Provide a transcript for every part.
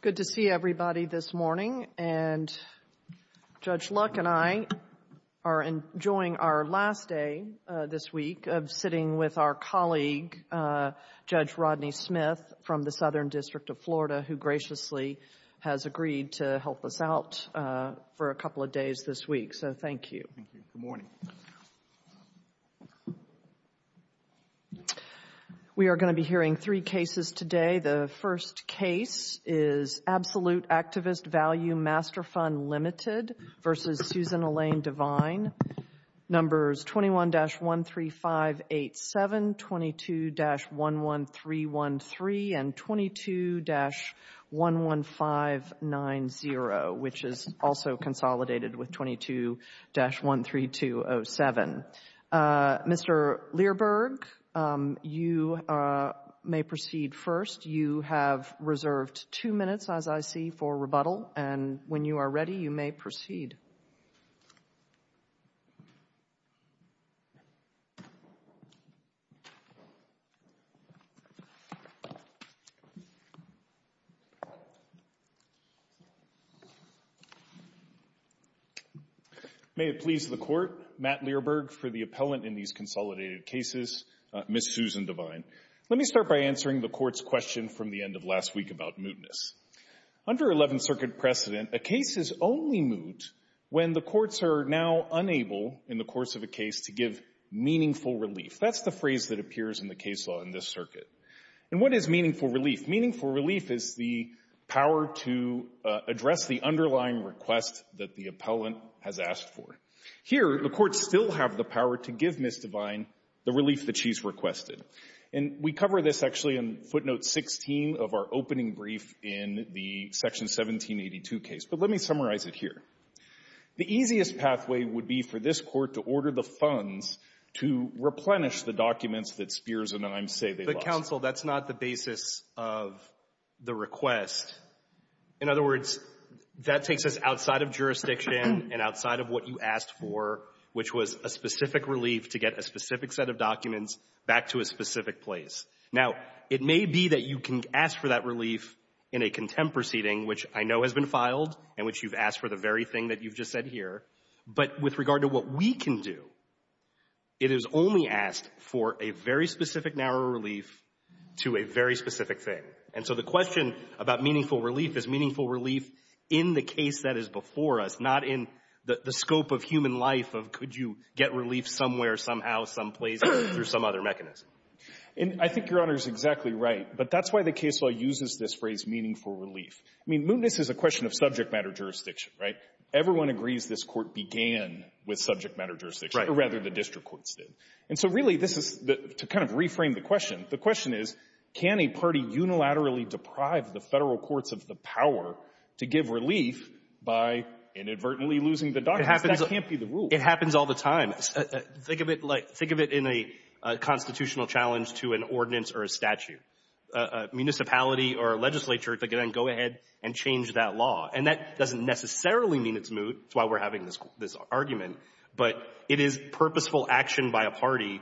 Good to see everybody this morning. And Judge Luck and I are enjoying our last day this week of sitting with our colleague, Judge Rodney Smith, from the Southern District of Florida, who graciously has agreed to help us out for a couple of days this week. So two cases today. The first case is Absolute Activist Value Master Fund Limited v. Susan Elaine Devine. Numbers 21-13587, 22-11313, and 22-11590, which is also consolidated with You have reserved two minutes, as I see, for rebuttal. And when you are ready, you may proceed. May it please the Court, Matt Learberg for the appellant in these consolidated cases, Ms. Susan Devine. Let me start by answering the Court's question from the end of last week about mootness. Under Eleventh Circuit precedent, a case is only moot when the courts are now unable, in the course of a case, to give meaningful relief. That's the phrase that appears in the case law in this circuit. And what is meaningful relief? Meaningful relief is the power to address the underlying request that the appellant has asked for. Here, the courts still have the power to give Ms. Devine the relief that she's requested. And we cover this, actually, in footnote 16 of our opening brief in the Section 1782 case. But let me summarize it here. The easiest pathway would be for this Court to order the funds to replenish the documents that Spears and Imes say they lost. But, counsel, that's not the basis of the request. In other words, that takes us outside of jurisdiction and outside of what you asked for, which was a specific relief to get a specific set of documents back to a specific place. Now, it may be that you can ask for that relief in a contempt proceeding, which I know has been filed and which you've asked for the very thing that you've just said here. But with regard to what we can do, it is only asked for a very specific, narrow relief to a very specific thing. And so the question about meaningful relief is meaningful relief in the case that is before us, not in the scope of human life of could you get relief somewhere, somehow, someplace, through some other mechanism. And I think Your Honor is exactly right. But that's why the case law uses this phrase meaningful relief. I mean, mootness is a question of subject matter jurisdiction, right? Everyone agrees this Court began with subject matter jurisdiction. Right. Or rather, the district courts did. And so, really, this is the — to kind of reframe the question, the question is, can a party unilaterally deprive the Federal courts of the power to give relief by inadvertently losing the documents? That can't be the rule. It happens all the time. Think of it like — think of it in a constitutional challenge to an ordinance or a statute. A municipality or a legislature could then go ahead and change that law. And that doesn't necessarily mean it's moot. That's why we're having this argument. But it is purposeful action by a party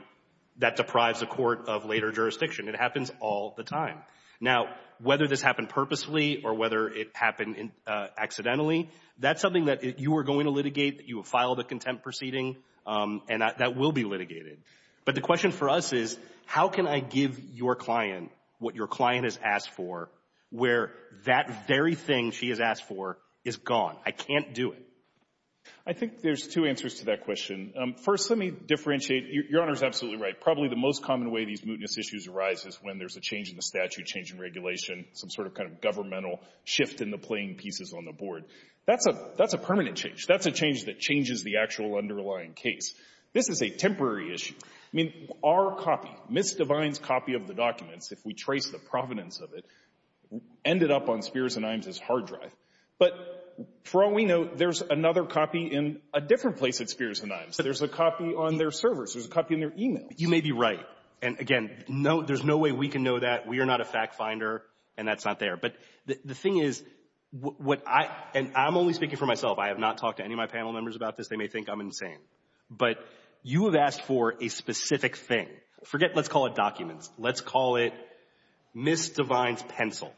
that deprives a court of later jurisdiction. It happens all the time. Now, whether this happened purposely or whether it happened accidentally, that's something that you are going to litigate, that you have filed a contempt proceeding, and that will be litigated. But the question for us is, how can I give your client what your client has asked for, where that very thing she has asked for is gone? I can't do it. I think there's two answers to that question. First, let me differentiate — Your Honor is absolutely right. Probably the most common way these mootness issues arise is when there's a change in the statute, change in regulation, some sort of kind of governmental shift in the playing pieces on the board. That's a permanent change. That's a change that changes the actual underlying case. This is a temporary issue. I mean, our copy, Ms. Devine's copy of the documents, if we trace the provenance of it, ended up on Spears & Iams' hard drive. But for all we know, there's another copy in a different place at Spears & Iams. There's a copy on their servers. There's a copy in their e-mails. You may be right. And again, no, there's no way we can know that. We are not a fact finder, and that's not there. But the thing is, what I — and I'm only speaking for myself. I have not talked to any of my panel members about this. They may think I'm insane. But you have asked for a specific thing. Forget, let's call it documents. Let's call it Ms. Devine's pencil.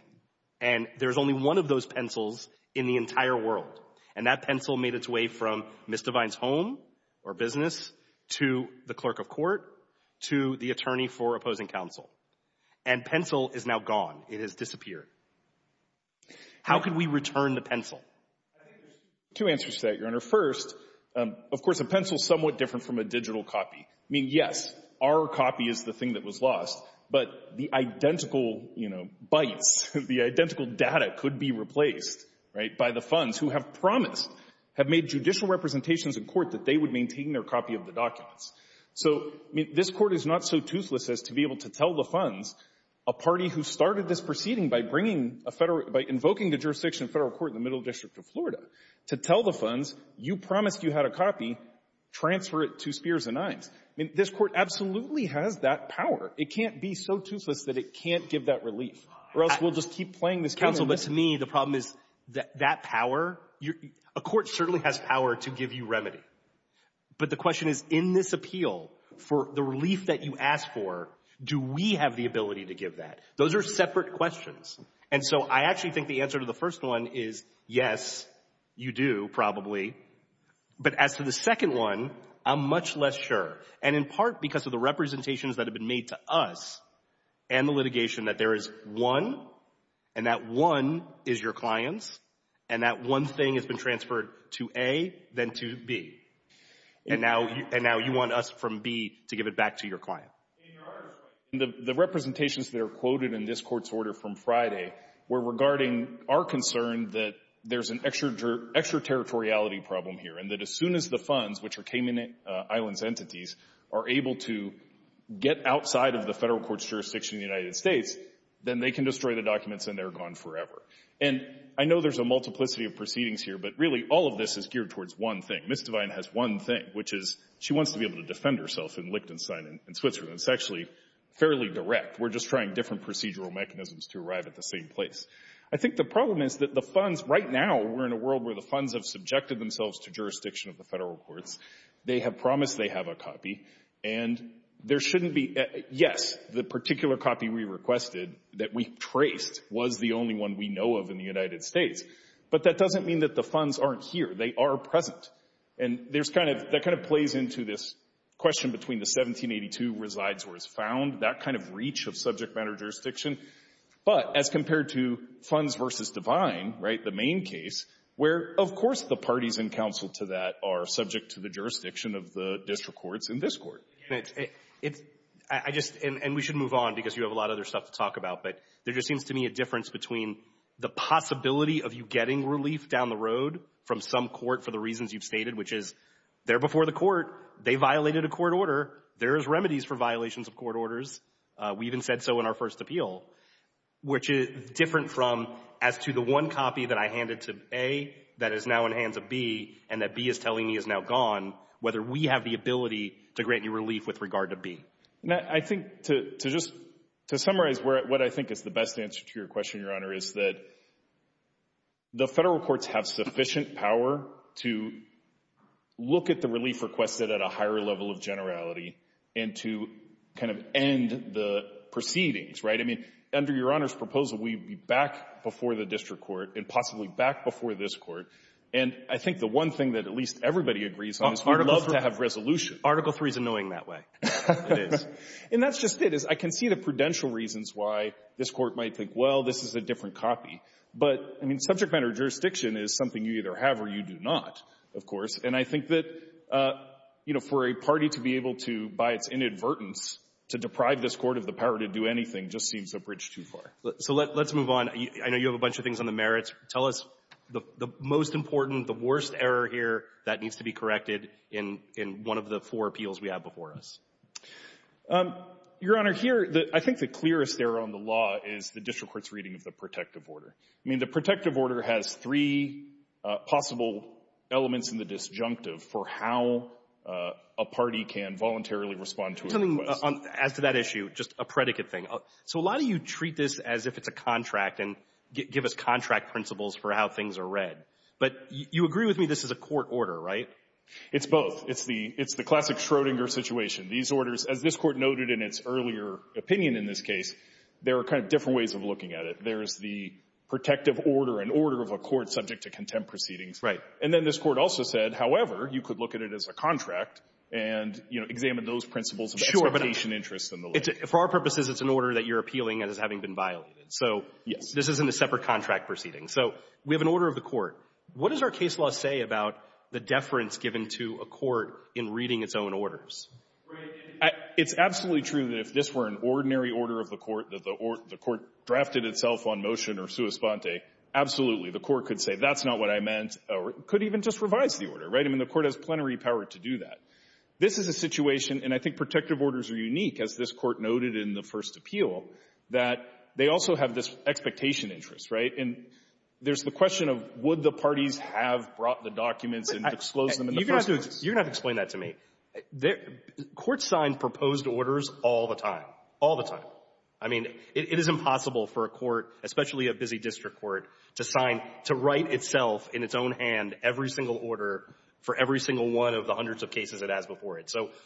And there's only one of those pencils in the entire world. And that pencil made its way from Ms. Devine's home or business to the clerk of court to the attorney for opposing counsel. And pencil is now gone. It has disappeared. How could we return the pencil? I think there's two answers to that, Your Honor. First, of course, a pencil's somewhat different from a digital copy. I mean, yes, our copy is the thing that was lost. But the identical, you know, bytes, the identical data could be made judicial representations in court that they would maintain their copy of the documents. So, I mean, this Court is not so toothless as to be able to tell the funds, a party who started this proceeding by bringing a Federal — by invoking the jurisdiction of Federal court in the middle district of Florida, to tell the funds, you promised you had a copy, transfer it to Spears & Ives. I mean, this Court absolutely has that power. It can't be so toothless that it can't give that relief, or else we'll just keep playing this game. But to me, the problem is that that power — a court certainly has power to give you remedy. But the question is, in this appeal, for the relief that you asked for, do we have the ability to give that? Those are separate questions. And so I actually think the answer to the first one is, yes, you do, probably. But as to the second one, I'm much less sure. And in part because of the representations that have been made to us, and the litigation, that there is one, and that one is your clients, and that one thing has been transferred to A, then to B. And now — and now you want us, from B, to give it back to your client. In your argument, the representations that are quoted in this Court's order from Friday were regarding our concern that there's an extraterritoriality problem here, and that as soon as the funds, which are Cayman Islands' entities, are able to get outside of the federal court's jurisdiction in the United States, then they can destroy the documents and they're gone forever. And I know there's a multiplicity of proceedings here, but really all of this is geared towards one thing. Ms. Devine has one thing, which is she wants to be able to defend herself in Liechtenstein and Switzerland. It's actually fairly direct. We're just trying different procedural mechanisms to arrive at the same place. I think the problem is that the funds — right now, we're in a world where the funds have subjected themselves to jurisdiction of the federal courts. They have promised they have a copy, and there shouldn't be — yes, the particular copy we requested, that we traced, was the only one we know of in the United States. But that doesn't mean that the funds aren't here. They are present. And there's kind of — that kind of plays into this question between the 1782 resides where it's found, that kind of reach of subject matter jurisdiction. But as compared to funds versus Devine, right, the main case, where, of course, the parties in counsel to that are subject to the jurisdiction of the district courts in this Court. And it's — I just — and we should move on, because you have a lot of other stuff to talk about. But there just seems to me a difference between the possibility of you getting relief down the road from some court for the reasons you've stated, which is, they're before the court. They violated a court order. There is remedies for violations of court orders. We even said so in our first appeal, which is different from as to the one copy that I handed to A that is now in the hands of B and that B is telling me is now gone, whether we have the ability to grant you relief with regard to B. Now, I think to just — to summarize what I think is the best answer to your question, Your Honor, is that the federal courts have sufficient power to look at the relief requested at a higher level of generality and to kind of end the proceedings, right? I mean, under Your Honor's proposal, we would be back before the district court and possibly back before this Court. And I think the one thing that at least everybody agrees on is we'd love to have resolution. Article III is annoying that way. It is. And that's just it, is I can see the prudential reasons why this Court might think, well, this is a different copy. But, I mean, subject matter jurisdiction is something you either have or you do not, of course. And I think that, you know, for a party to be able to, by its inadvertence, to deprive this Court of the power to do anything just seems a bridge too far. So let's move on. I know you have a bunch of things on the merits. Tell us the most important, the worst error here that needs to be corrected in one of the four appeals we have before us. Your Honor, here, I think the clearest error on the law is the district court's reading of the protective order. I mean, the protective order has three possible elements in the disjunctive for how a party can voluntarily respond to a request. As to that issue, just a predicate thing. So a lot of you treat this as if it's a contract and give us contract principles for how things are read. But you agree with me this is a court order, right? It's both. It's the classic Schrodinger situation. These orders, as this Court noted in its earlier opinion in this case, there are kind of different ways of looking at it. There's the protective order, an order of a court subject to contempt proceedings. Right. And then this Court also said, however, you could look at it as a contract and, you know, examine those principles of expectation, interest, and the like. For our purposes, it's an order that you're appealing as having been violated. So this isn't a separate contract proceeding. So we have an order of the court. What does our case law say about the deference given to a court in reading its own orders? Right. It's absolutely true that if this were an ordinary order of the court that the court drafted itself on motion or sua sponte, absolutely, the court could say, that's not what I meant, or could even just revise the order, right? I mean, the court has plenary power to do that. This is a situation, and I think protective orders are unique, as this Court noted in the first appeal, that they also have this expectation interest, right? And there's the question of, would the parties have brought the documents and disclosed them in the first place? You're going to have to explain that to me. Courts sign proposed orders all the time. All the time. I mean, it is impossible for a court, especially a busy district court, to sign So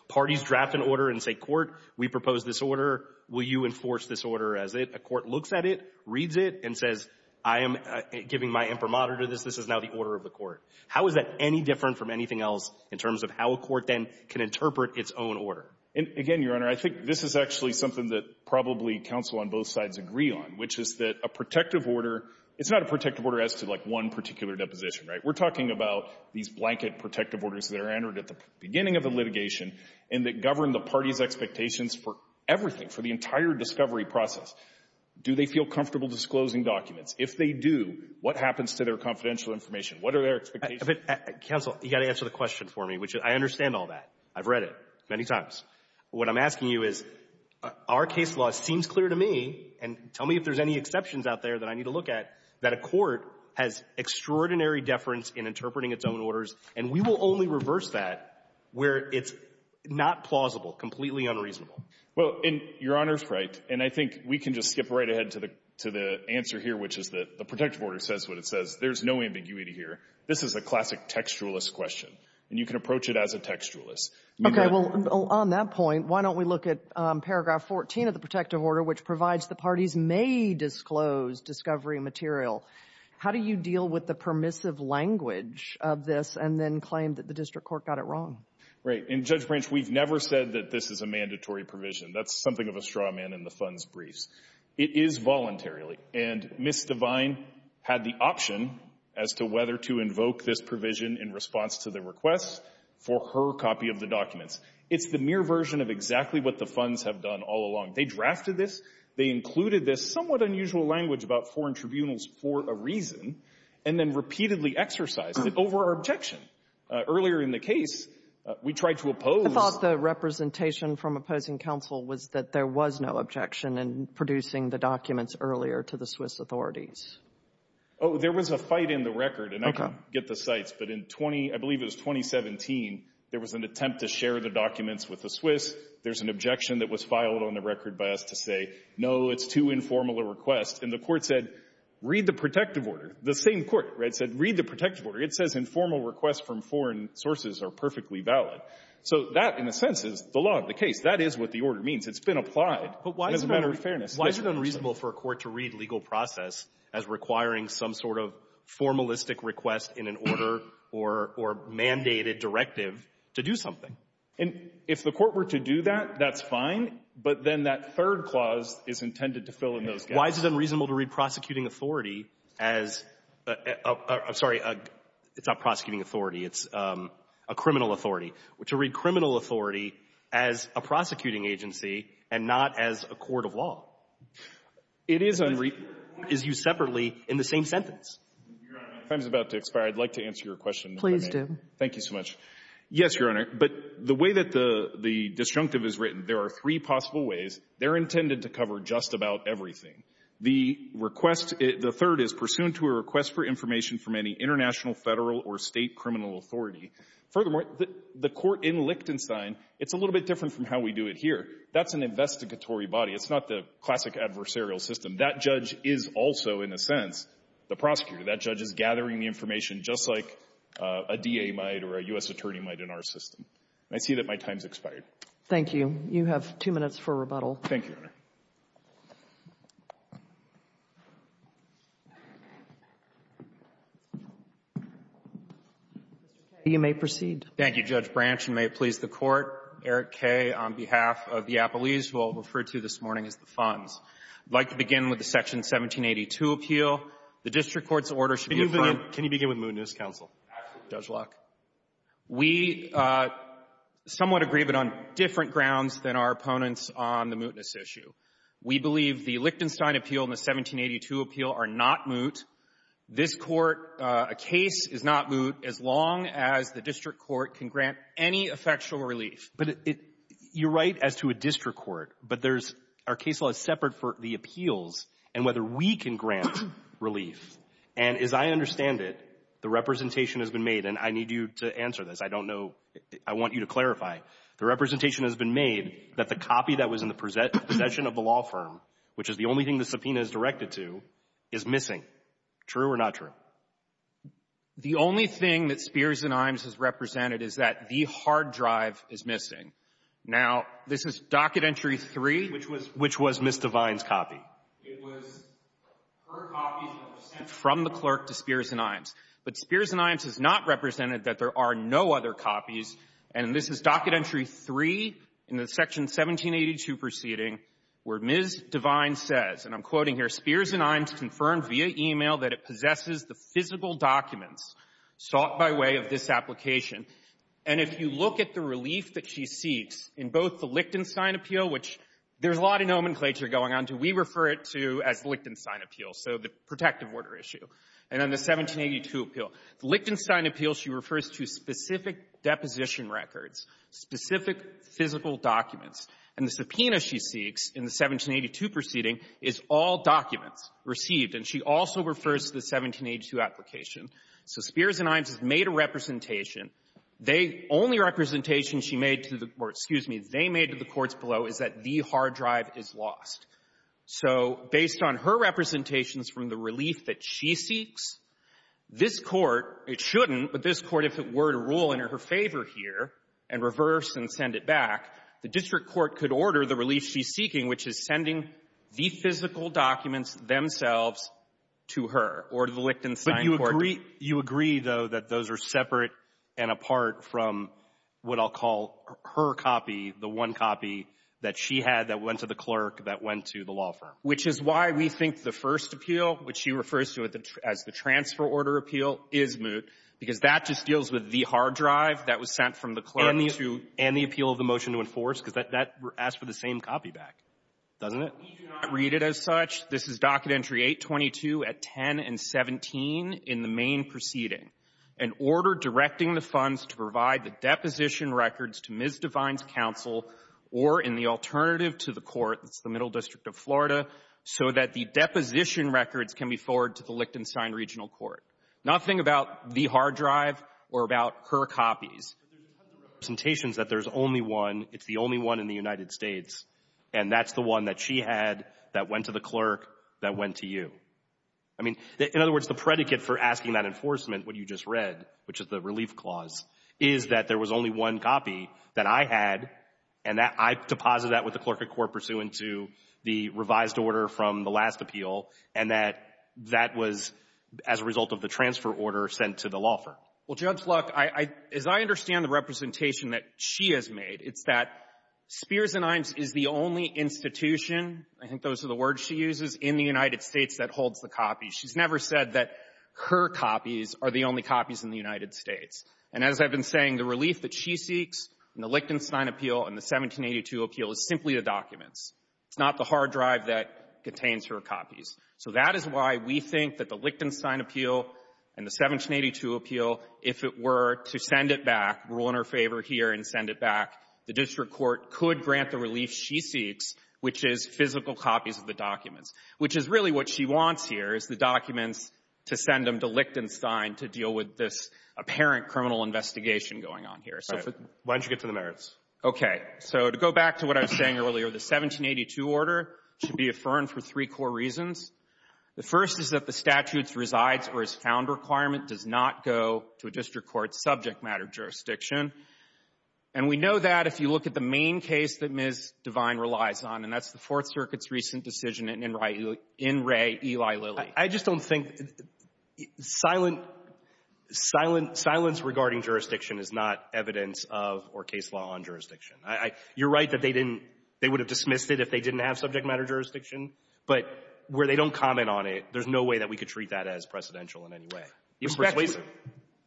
parties draft an order and say, court, we propose this order. Will you enforce this order as it? A court looks at it, reads it, and says, I am giving my imprimatur to this. This is now the order of the court. How is that any different from anything else in terms of how a court then can interpret its own order? And again, Your Honor, I think this is actually something that probably counsel on both sides agree on, which is that a protective order, it's not a protective order as to like one particular deposition, right? We're talking about these blanket protective orders that are entered at the beginning of the litigation and that govern the party's expectations for everything, for the entire discovery process. Do they feel comfortable disclosing documents? If they do, what happens to their confidential information? What are their expectations? But counsel, you've got to answer the question for me, which I understand all that. I've read it many times. What I'm asking you is, our case law seems clear to me, and tell me if there's any deference in interpreting its own orders. And we will only reverse that where it's not plausible, completely unreasonable. Well, and Your Honor's right. And I think we can just skip right ahead to the answer here, which is that the protective order says what it says. There's no ambiguity here. This is a classic textualist question. And you can approach it as a textualist. Okay. Well, on that point, why don't we look at paragraph 14 of the protective order, which provides the parties may disclose discovery material. How do you deal with the permissive language of this and then claim that the district court got it wrong? Right. And, Judge Branch, we've never said that this is a mandatory provision. That's something of a straw man in the funds briefs. It is voluntarily. And Ms. Devine had the option as to whether to invoke this provision in response to the request for her copy of the documents. It's the mere version of exactly what the funds have done all along. They drafted this. They included this somewhat unusual language about foreign tribunals for a reason and then repeatedly exercised it over our objection. Earlier in the case, we tried to oppose. I thought the representation from opposing counsel was that there was no objection in producing the documents earlier to the Swiss authorities. Oh, there was a fight in the record. And I can get the sites. But in 20, I believe it was 2017, there was an attempt to share the documents with the Swiss. There's an objection that was filed on the record by us to say, no, it's too informal a request. And the Court said, read the protective order. The same Court, right, said read the protective order. It says informal requests from foreign sources are perfectly valid. So that, in a sense, is the law of the case. That is what the order means. It's been applied as a matter of fairness. But why is it unreasonable for a court to read legal process as requiring some sort of formalistic request in an order or mandated directive to do something? And if the Court were to do that, that's fine. But then that third clause is intended to fill in those gaps. Why is it unreasonable to read prosecuting authority as — I'm sorry. It's not prosecuting authority. It's a criminal authority. To read criminal authority as a prosecuting agency and not as a court of law. It is unreasonable. Is used separately in the same sentence. Your Honor, time is about to expire. I'd like to answer your question, if I may. Please do. Thank you so much. Yes, Your Honor. But the way that the disjunctive is written, there are three possible ways. They're intended to cover just about everything. The request — the third is pursuant to a request for information from any international, Federal, or State criminal authority. Furthermore, the court in Lichtenstein, it's a little bit different from how we do it here. That's an investigatory body. It's not the classic adversarial system. That judge is also, in a sense, the prosecutor. That judge is gathering the information just like a DA might or a U.S. attorney might in our system. And I see that my time's expired. Thank you. You have two minutes for rebuttal. Thank you, Your Honor. You may proceed. Thank you, Judge Branch. And may it please the Court, Eric Kaye, on behalf of the Appellees, who I'll refer to this morning as the Fonz. I'd like to begin with the Section 1782 appeal. The district court's order should be a fine — Can you begin with mootness, counsel? Absolutely, Judge Locke. We somewhat agree, but on different grounds than our opponents on the mootness issue. We believe the Lichtenstein appeal and the 1782 appeal are not moot. This Court, a case is not moot as long as the district court can grant any effectual relief. But it — you're right as to a district court. But there's — our case law is separate for the appeals. And whether we can grant relief — and as I understand it, the representation has been made — and I need you to answer this. I don't know — I want you to clarify. The representation has been made that the copy that was in the possession of the law firm, which is the only thing the subpoena is directed to, is missing. True or not true? The only thing that Spears and Imes has represented is that the hard drive is missing. Now, this is Docket Entry 3 — Which was — which was Ms. Devine's copy. It was her copies that were sent from the clerk to Spears and Imes. But Spears and Imes has not represented that there are no other copies. And this is Docket Entry 3 in the Section 1782 proceeding where Ms. Devine says — and I'm quoting here — Spears and Imes confirmed via e-mail that it possesses the physical documents sought by way of this application. And if you look at the relief that she seeks in both the Lichtenstein appeal, which there's a lot of nomenclature going on. We refer to it as the Lichtenstein appeal, so the protective order issue. And then the 1782 appeal. The Lichtenstein appeal, she refers to specific deposition records, specific physical documents. And the subpoena she seeks in the 1782 proceeding is all documents received. And she also refers to the 1782 application. So Spears and Imes has made a representation. They — only representation she made to the — or, excuse me, they made to the courts below is that the hard drive is lost. So based on her representations from the relief that she seeks, this Court — it shouldn't, but this Court, if it were to rule in her favor here and reverse and send it back, the district court could order the relief she's seeking, which is sending the physical documents themselves to her or to the Lichtenstein court. But you agree — you agree, though, that those are separate and apart from what I'll call her copy, the one copy that she had that went to the clerk that went to the Which is why we think the first appeal, which she refers to as the transfer order appeal, is moot, because that just deals with the hard drive that was sent from the clerk to — And the appeal of the motion to enforce, because that — that asks for the same copy back, doesn't it? We do not read it as such. This is Docket Entry 822 at 10 and 17 in the main proceeding. An order directing the funds to provide the deposition records to Ms. Devine's or in the alternative to the court, that's the Middle District of Florida, so that the deposition records can be forwarded to the Lichtenstein Regional Court. Nothing about the hard drive or about her copies. But there's a ton of representations that there's only one — it's the only one in the United States, and that's the one that she had that went to the clerk that went to you. I mean, in other words, the predicate for asking that enforcement what you just read, which is the relief clause, is that there was only one copy that I had and that I deposited that with the clerk at court pursuant to the revised order from the last appeal, and that that was as a result of the transfer order sent to the law firm. Well, Judge, look, I — as I understand the representation that she has made, it's that Spears & Ines is the only institution — I think those are the words she uses — in the United States that holds the copies. She's never said that her copies are the only copies in the United States. And as I've been saying, the relief that she seeks in the Lichtenstein appeal and the 1782 appeal is simply the documents. It's not the hard drive that contains her copies. So that is why we think that the Lichtenstein appeal and the 1782 appeal, if it were to send it back, rule in her favor here and send it back, the district court could grant the relief she seeks, which is physical copies of the documents, which is really what she wants here, is the documents to send them to Lichtenstein to deal with this apparent criminal investigation going on here. So if it — Right. Why don't you get to the merits? Okay. So to go back to what I was saying earlier, the 1782 order should be affirmed for three core reasons. The first is that the statute's resides or is found requirement does not go to a district court's subject matter jurisdiction. And we know that if you look at the main case that Ms. Devine relies on, and that's the Fourth Circuit's recent decision in Wray, Eli Lilly. I just don't think — silence regarding jurisdiction is not evidence of or case law on jurisdiction. You're right that they didn't — they would have dismissed it if they didn't have subject matter jurisdiction. But where they don't comment on it, there's no way that we could treat that as precedential in any way. Respectfully — Respectfully —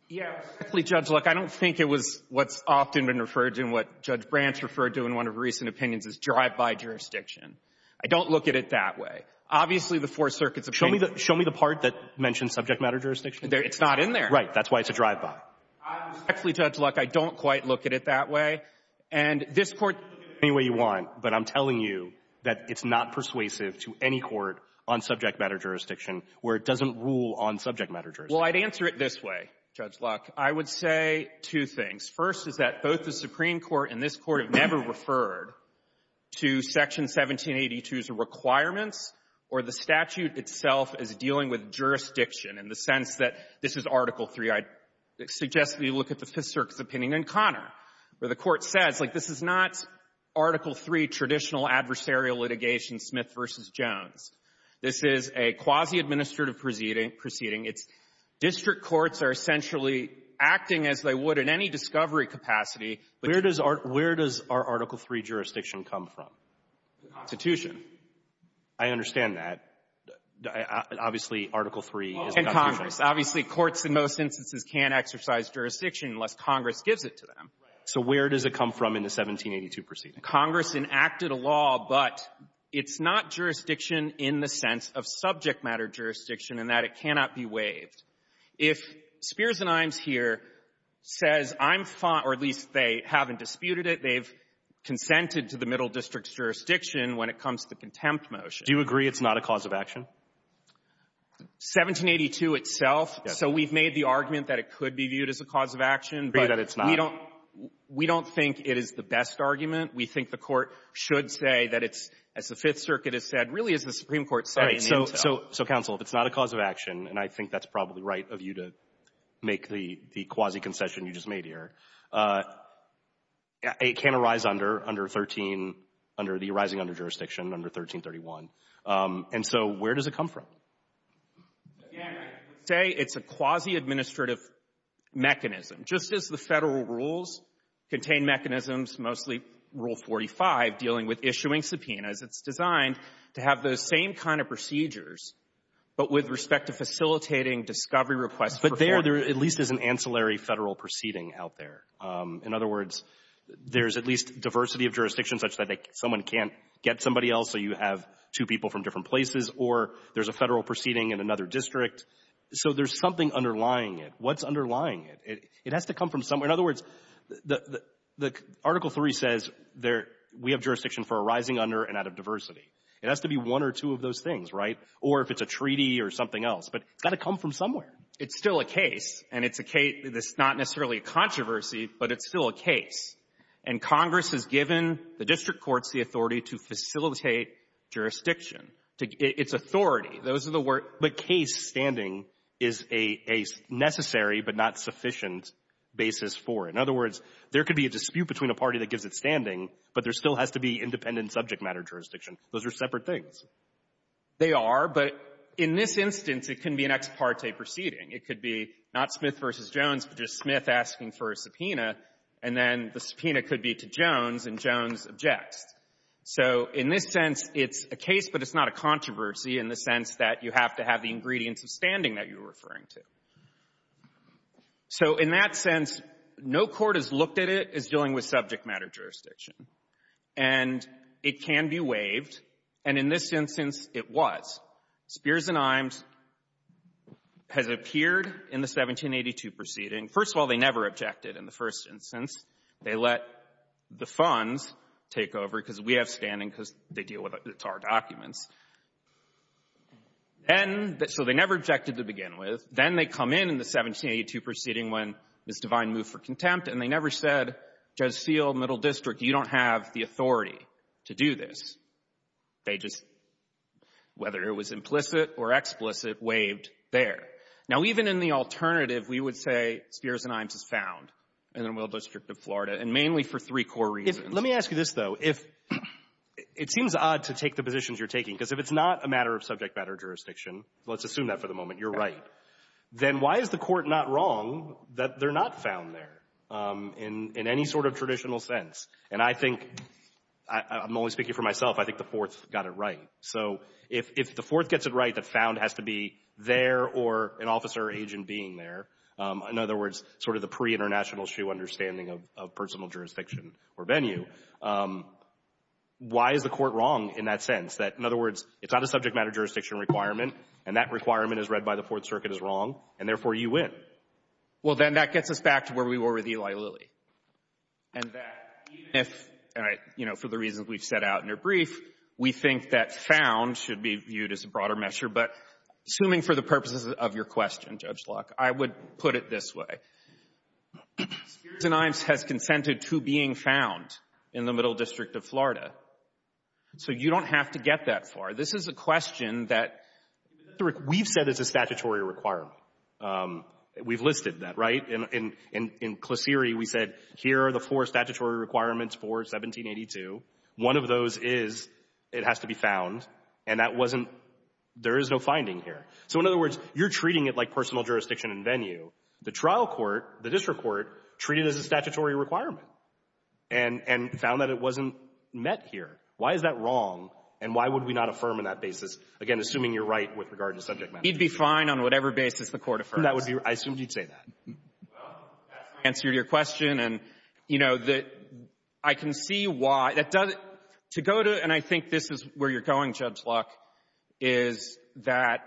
yeah, respectfully, Judge Luck, I don't think it was what's often been referred to and what Judge Branch referred to in one of her recent opinions is drive-by jurisdiction. I don't look at it that way. Obviously, the Fourth Circuit's opinion — Show me the part that mentions subject matter jurisdiction. It's not in there. Right. That's why it's a drive-by. Respectfully, Judge Luck, I don't quite look at it that way. And this Court — Any way you want, but I'm telling you that it's not persuasive to any court on subject matter jurisdiction where it doesn't rule on subject matter jurisdiction. Well, I'd answer it this way, Judge Luck. I would say two things. First is that both the Supreme Court and this Court have never referred to Section 1782's requirements or the statute itself as dealing with jurisdiction in the sense that this is Article III. I suggest we look at the Fifth Circuit's opinion in Conner, where the Court says, like, this is not Article III traditional adversarial litigation, Smith v. Jones. This is a quasi-administrative proceeding. It's district courts are essentially acting as they would in any discovery capacity. Where does our — where does our Article III jurisdiction come from? The Constitution. I understand that. Obviously, Article III is the Constitution. And Congress. Obviously, courts in most instances can't exercise jurisdiction unless Congress gives it to them. Right. So where does it come from in the 1782 proceeding? Congress enacted a law, but it's not jurisdiction in the sense of subject matter jurisdiction and that it cannot be waived. If Spears and Imes here says, I'm — or at least they haven't disputed it. They've consented to the middle district's jurisdiction when it comes to the contempt motion. Do you agree it's not a cause of action? 1782 itself. So we've made the argument that it could be viewed as a cause of action. But we don't — But you agree that it's not? We don't think it is the best argument. We think the Court should say that it's, as the Fifth Circuit has said, really is the Supreme Court setting the intel. So, Counsel, if it's not a cause of action, and I think that's probably right of you to make the quasi-concession you just made here, it can arise under 13 — under the arising under jurisdiction under 1331. And so where does it come from? Again, I would say it's a quasi-administrative mechanism. Just as the Federal rules contain mechanisms, mostly Rule 45, dealing with issuing But with respect to facilitating discovery requests for — But there, there at least is an ancillary Federal proceeding out there. In other words, there's at least diversity of jurisdiction such that someone can't get somebody else, so you have two people from different places. Or there's a Federal proceeding in another district. So there's something underlying it. What's underlying it? It has to come from somewhere. In other words, the Article III says we have jurisdiction for arising under and out of diversity. It has to be one or two of those things, right? Or if it's a treaty or something else. But it's got to come from somewhere. It's still a case. And it's a case — it's not necessarily a controversy, but it's still a case. And Congress has given the district courts the authority to facilitate jurisdiction. It's authority. Those are the words — the case standing is a necessary but not sufficient basis for. In other words, there could be a dispute between a party that gives it standing, but there still has to be independent subject matter jurisdiction. Those are separate things. They are. But in this instance, it can be an ex parte proceeding. It could be not Smith v. Jones, but just Smith asking for a subpoena. And then the subpoena could be to Jones, and Jones objects. So in this sense, it's a case, but it's not a controversy in the sense that you have to have the ingredients of standing that you're referring to. So in that sense, no court has looked at it as dealing with subject matter jurisdiction. And it can be waived. And in this instance, it was. Spears and Imes has appeared in the 1782 proceeding. First of all, they never objected in the first instance. They let the funds take over because we have standing because they deal with it. It's our documents. Then — so they never objected to begin with. Then they come in in the 1782 proceeding when Ms. Devine moved for contempt, and they never said, Judge Seale, Middle District, you don't have the authority to do this. They just — whether it was implicit or explicit, waived there. Now, even in the alternative, we would say Spears and Imes is found in the Middle District of Florida, and mainly for three core reasons. If — let me ask you this, though. If — it seems odd to take the positions you're taking, because if it's not a matter of subject matter jurisdiction — let's assume that for the moment, you're right — then why is the Court not wrong that they're not found there? In any sort of traditional sense. And I think — I'm only speaking for myself. I think the Fourth got it right. So if the Fourth gets it right that found has to be there or an officer or agent being there, in other words, sort of the pre-International Shoe understanding of personal jurisdiction or venue, why is the Court wrong in that sense, that, in other words, it's not a subject matter jurisdiction requirement, and that requirement as read by the Fourth Circuit is wrong, and therefore, you win? Well, then that gets us back to where we were with Eli Lilly. And that even if — all right, you know, for the reasons we've set out in your brief, we think that found should be viewed as a broader measure, but assuming for the purposes of your question, Judge Locke, I would put it this way. Spears and Imes has consented to being found in the Middle District of Florida. So you don't have to get that far. This is a question that — we've said it's a statutory requirement. We've listed that, right? In — in — in Klosiri, we said here are the four statutory requirements for 1782. One of those is it has to be found, and that wasn't — there is no finding here. So, in other words, you're treating it like personal jurisdiction and venue. The trial court, the district court, treated it as a statutory requirement and — and found that it wasn't met here. Why is that wrong, and why would we not affirm in that basis, again, assuming you're right with regard to subject matter? He'd be fine on whatever basis the Court affirms. That would be — I assumed you'd say that. Well, that's my answer to your question. And, you know, the — I can see why — that doesn't — to go to — and I think this is where you're going, Judge Locke, is that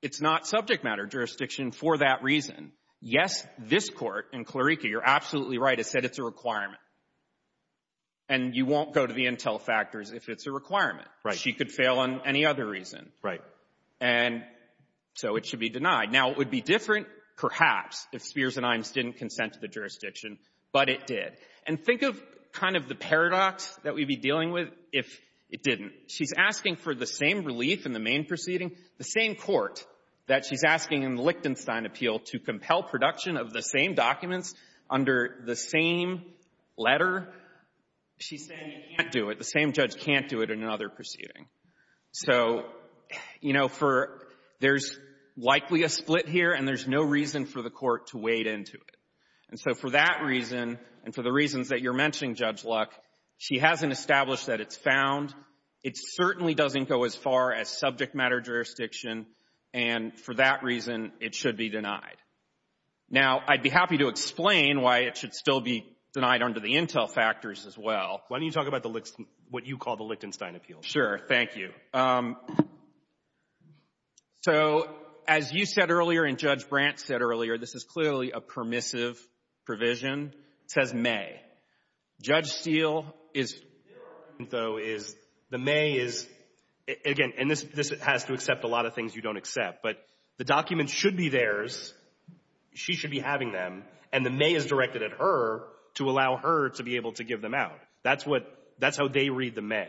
it's not subject matter jurisdiction for that reason. Yes, this Court in Clarika, you're absolutely right, has said it's a requirement. And you won't go to the intel factors if it's a requirement. Right. She could fail on any other reason. Right. And so it should be denied. Now, it would be different, perhaps, if Spears and Imes didn't consent to the jurisdiction, but it did. And think of kind of the paradox that we'd be dealing with if it didn't. She's asking for the same relief in the main proceeding, the same court that she's asking in the Lichtenstein appeal to compel production of the same documents under the same letter. She's saying you can't do it. The same judge can't do it in another proceeding. So, you know, for — there's likely a split here, and there's no reason for the Court to wade into it. And so for that reason and for the reasons that you're mentioning, Judge Locke, she hasn't established that it's found. It certainly doesn't go as far as subject matter jurisdiction, and for that reason, it should be denied. Now, I'd be happy to explain why it should still be denied under the intel factors as well. Why don't you talk about the — what you call the Lichtenstein appeal? Sure. Thank you. So as you said earlier and Judge Brandt said earlier, this is clearly a permissive provision. It says may. Judge Steele is — though is the may is — again, and this has to accept a lot of things you don't accept, but the documents should be theirs. She should be having them, and the may is directed at her to allow her to be able to give them out. That's what — that's how they read the may.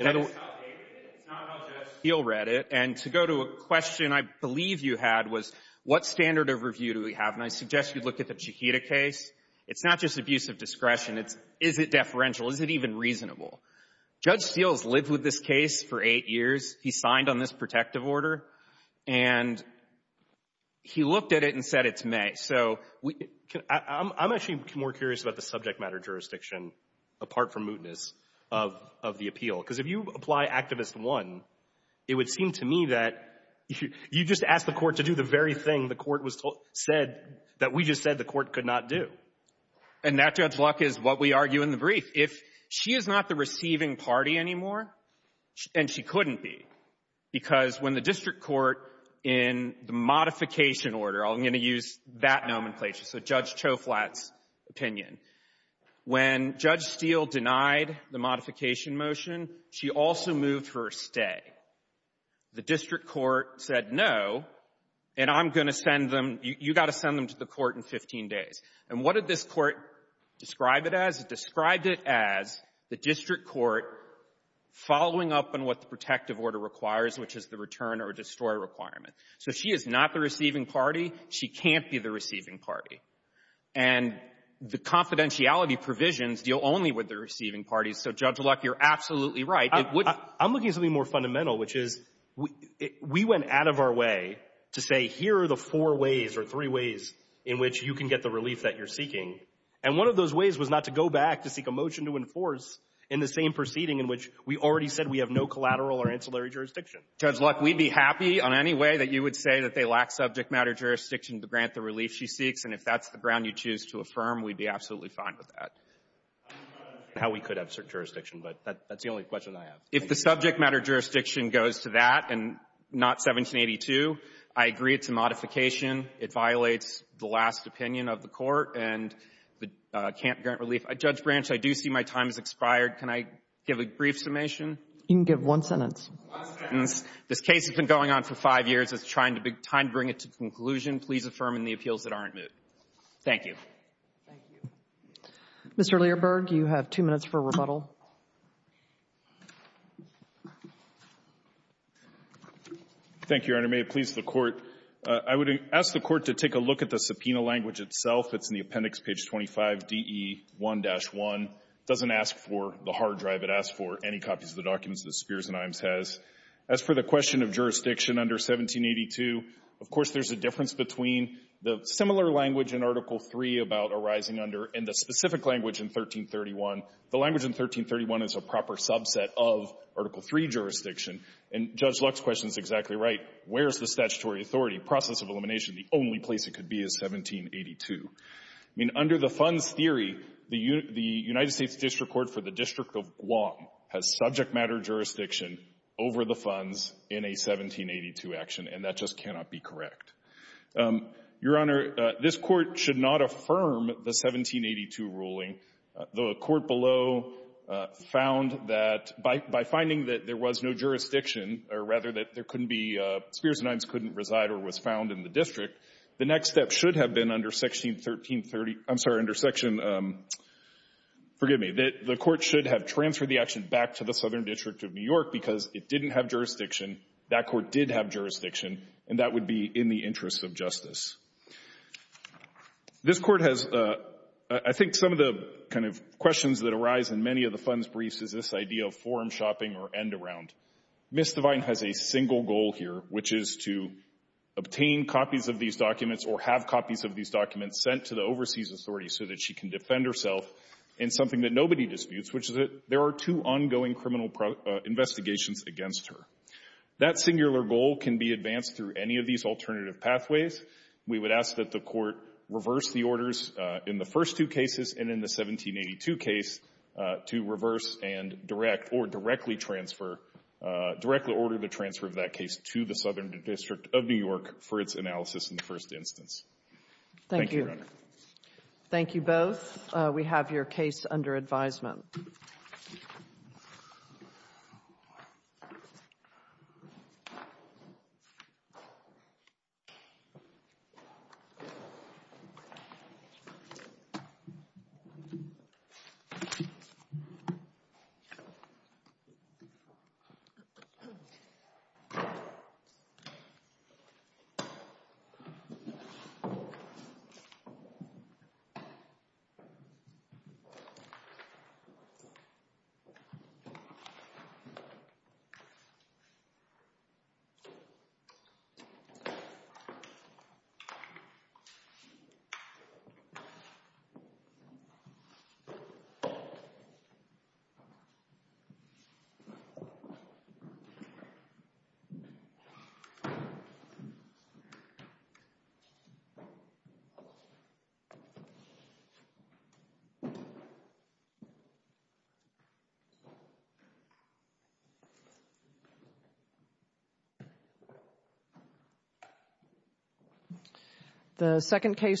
That is how they read it. It's not how Judge Steele read it. And to go to a question I believe you had was what standard of review do we have? And I suggest you look at the Chiquita case. It's not just abuse of discretion. It's is it deferential? Is it even reasonable? Judge Steele has lived with this case for eight years. He signed on this protective order, and he looked at it and said it's may. So I'm actually more curious about the subject matter jurisdiction, apart from of the appeal. Because if you apply Activist 1, it would seem to me that you just ask the court to do the very thing the court was told — said that we just said the court could not do. And that, Judge Luck, is what we argue in the brief. If she is not the receiving party anymore, and she couldn't be, because when the district court in the modification order — I'm going to use that nomenclature, so Judge Steele denied the modification motion, she also moved for a stay. The district court said no, and I'm going to send them — you got to send them to the court in 15 days. And what did this court describe it as? It described it as the district court following up on what the protective order requires, which is the return or destroy requirement. So she is not the receiving party. She can't be the receiving party. And the confidentiality provisions deal only with the receiving parties. So, Judge Luck, you're absolutely right. I'm looking at something more fundamental, which is we went out of our way to say, here are the four ways or three ways in which you can get the relief that you're seeking. And one of those ways was not to go back to seek a motion to enforce in the same proceeding in which we already said we have no collateral or ancillary jurisdiction. Judge Luck, we'd be happy on any way that you would say that they lack subject matter jurisdiction to grant the relief she seeks. And if that's the ground you choose to affirm, we'd be absolutely fine with that. I'm not sure how we could have certain jurisdiction, but that's the only question I have. If the subject matter jurisdiction goes to that and not 1782, I agree it's a modification. It violates the last opinion of the Court and can't grant relief. Judge Branch, I do see my time has expired. You can give one sentence. One sentence. This case has been going on for five years. It's time to bring it to conclusion. Please affirm in the appeals that aren't moved. Thank you. Thank you. Mr. Learberg, you have two minutes for rebuttal. Thank you, Your Honor. May it please the Court. I would ask the Court to take a look at the subpoena language itself. It's in the appendix, page 25, DE1-1. It doesn't ask for the hard drive. It asks for any copies of the documents that Spears and Imes has. As for the question of jurisdiction under 1782, of course, there's a difference between the similar language in Article III about arising under and the specific language in 1331. The language in 1331 is a proper subset of Article III jurisdiction. And Judge Luck's question is exactly right. Where is the statutory authority process of elimination? The only place it could be is 1782. I mean, under the funds theory, the United States District Court for the District of Guam has subject matter jurisdiction over the funds in a 1782 action, and that just cannot be correct. Your Honor, this Court should not affirm the 1782 ruling, though a court below found that by finding that there was no jurisdiction, or rather that there couldn't be — Spears and Imes couldn't reside or was found in the district, the next step should have been under Section 1330 — I'm sorry, under Section — forgive me — the Court should have transferred the action back to the Southern District of New York because it didn't have jurisdiction, that Court did have jurisdiction, and that would be in the interest of justice. This Court has — I think some of the kind of questions that arise in many of the funds briefs is this idea of forum shopping or end-around. Ms. Devine has a single goal here, which is to obtain copies of these documents or have copies of these documents sent to the overseas authorities so that she can disputes, which is that there are two ongoing criminal investigations against her. That singular goal can be advanced through any of these alternative pathways. We would ask that the Court reverse the orders in the first two cases and in the 1782 case to reverse and direct or directly transfer — directly order the transfer of that case to the Southern District of New York for its analysis in the first instance. Thank you, Your Honor. Thank you both. We have your case under advisement. Thank you. Thank you. The second case —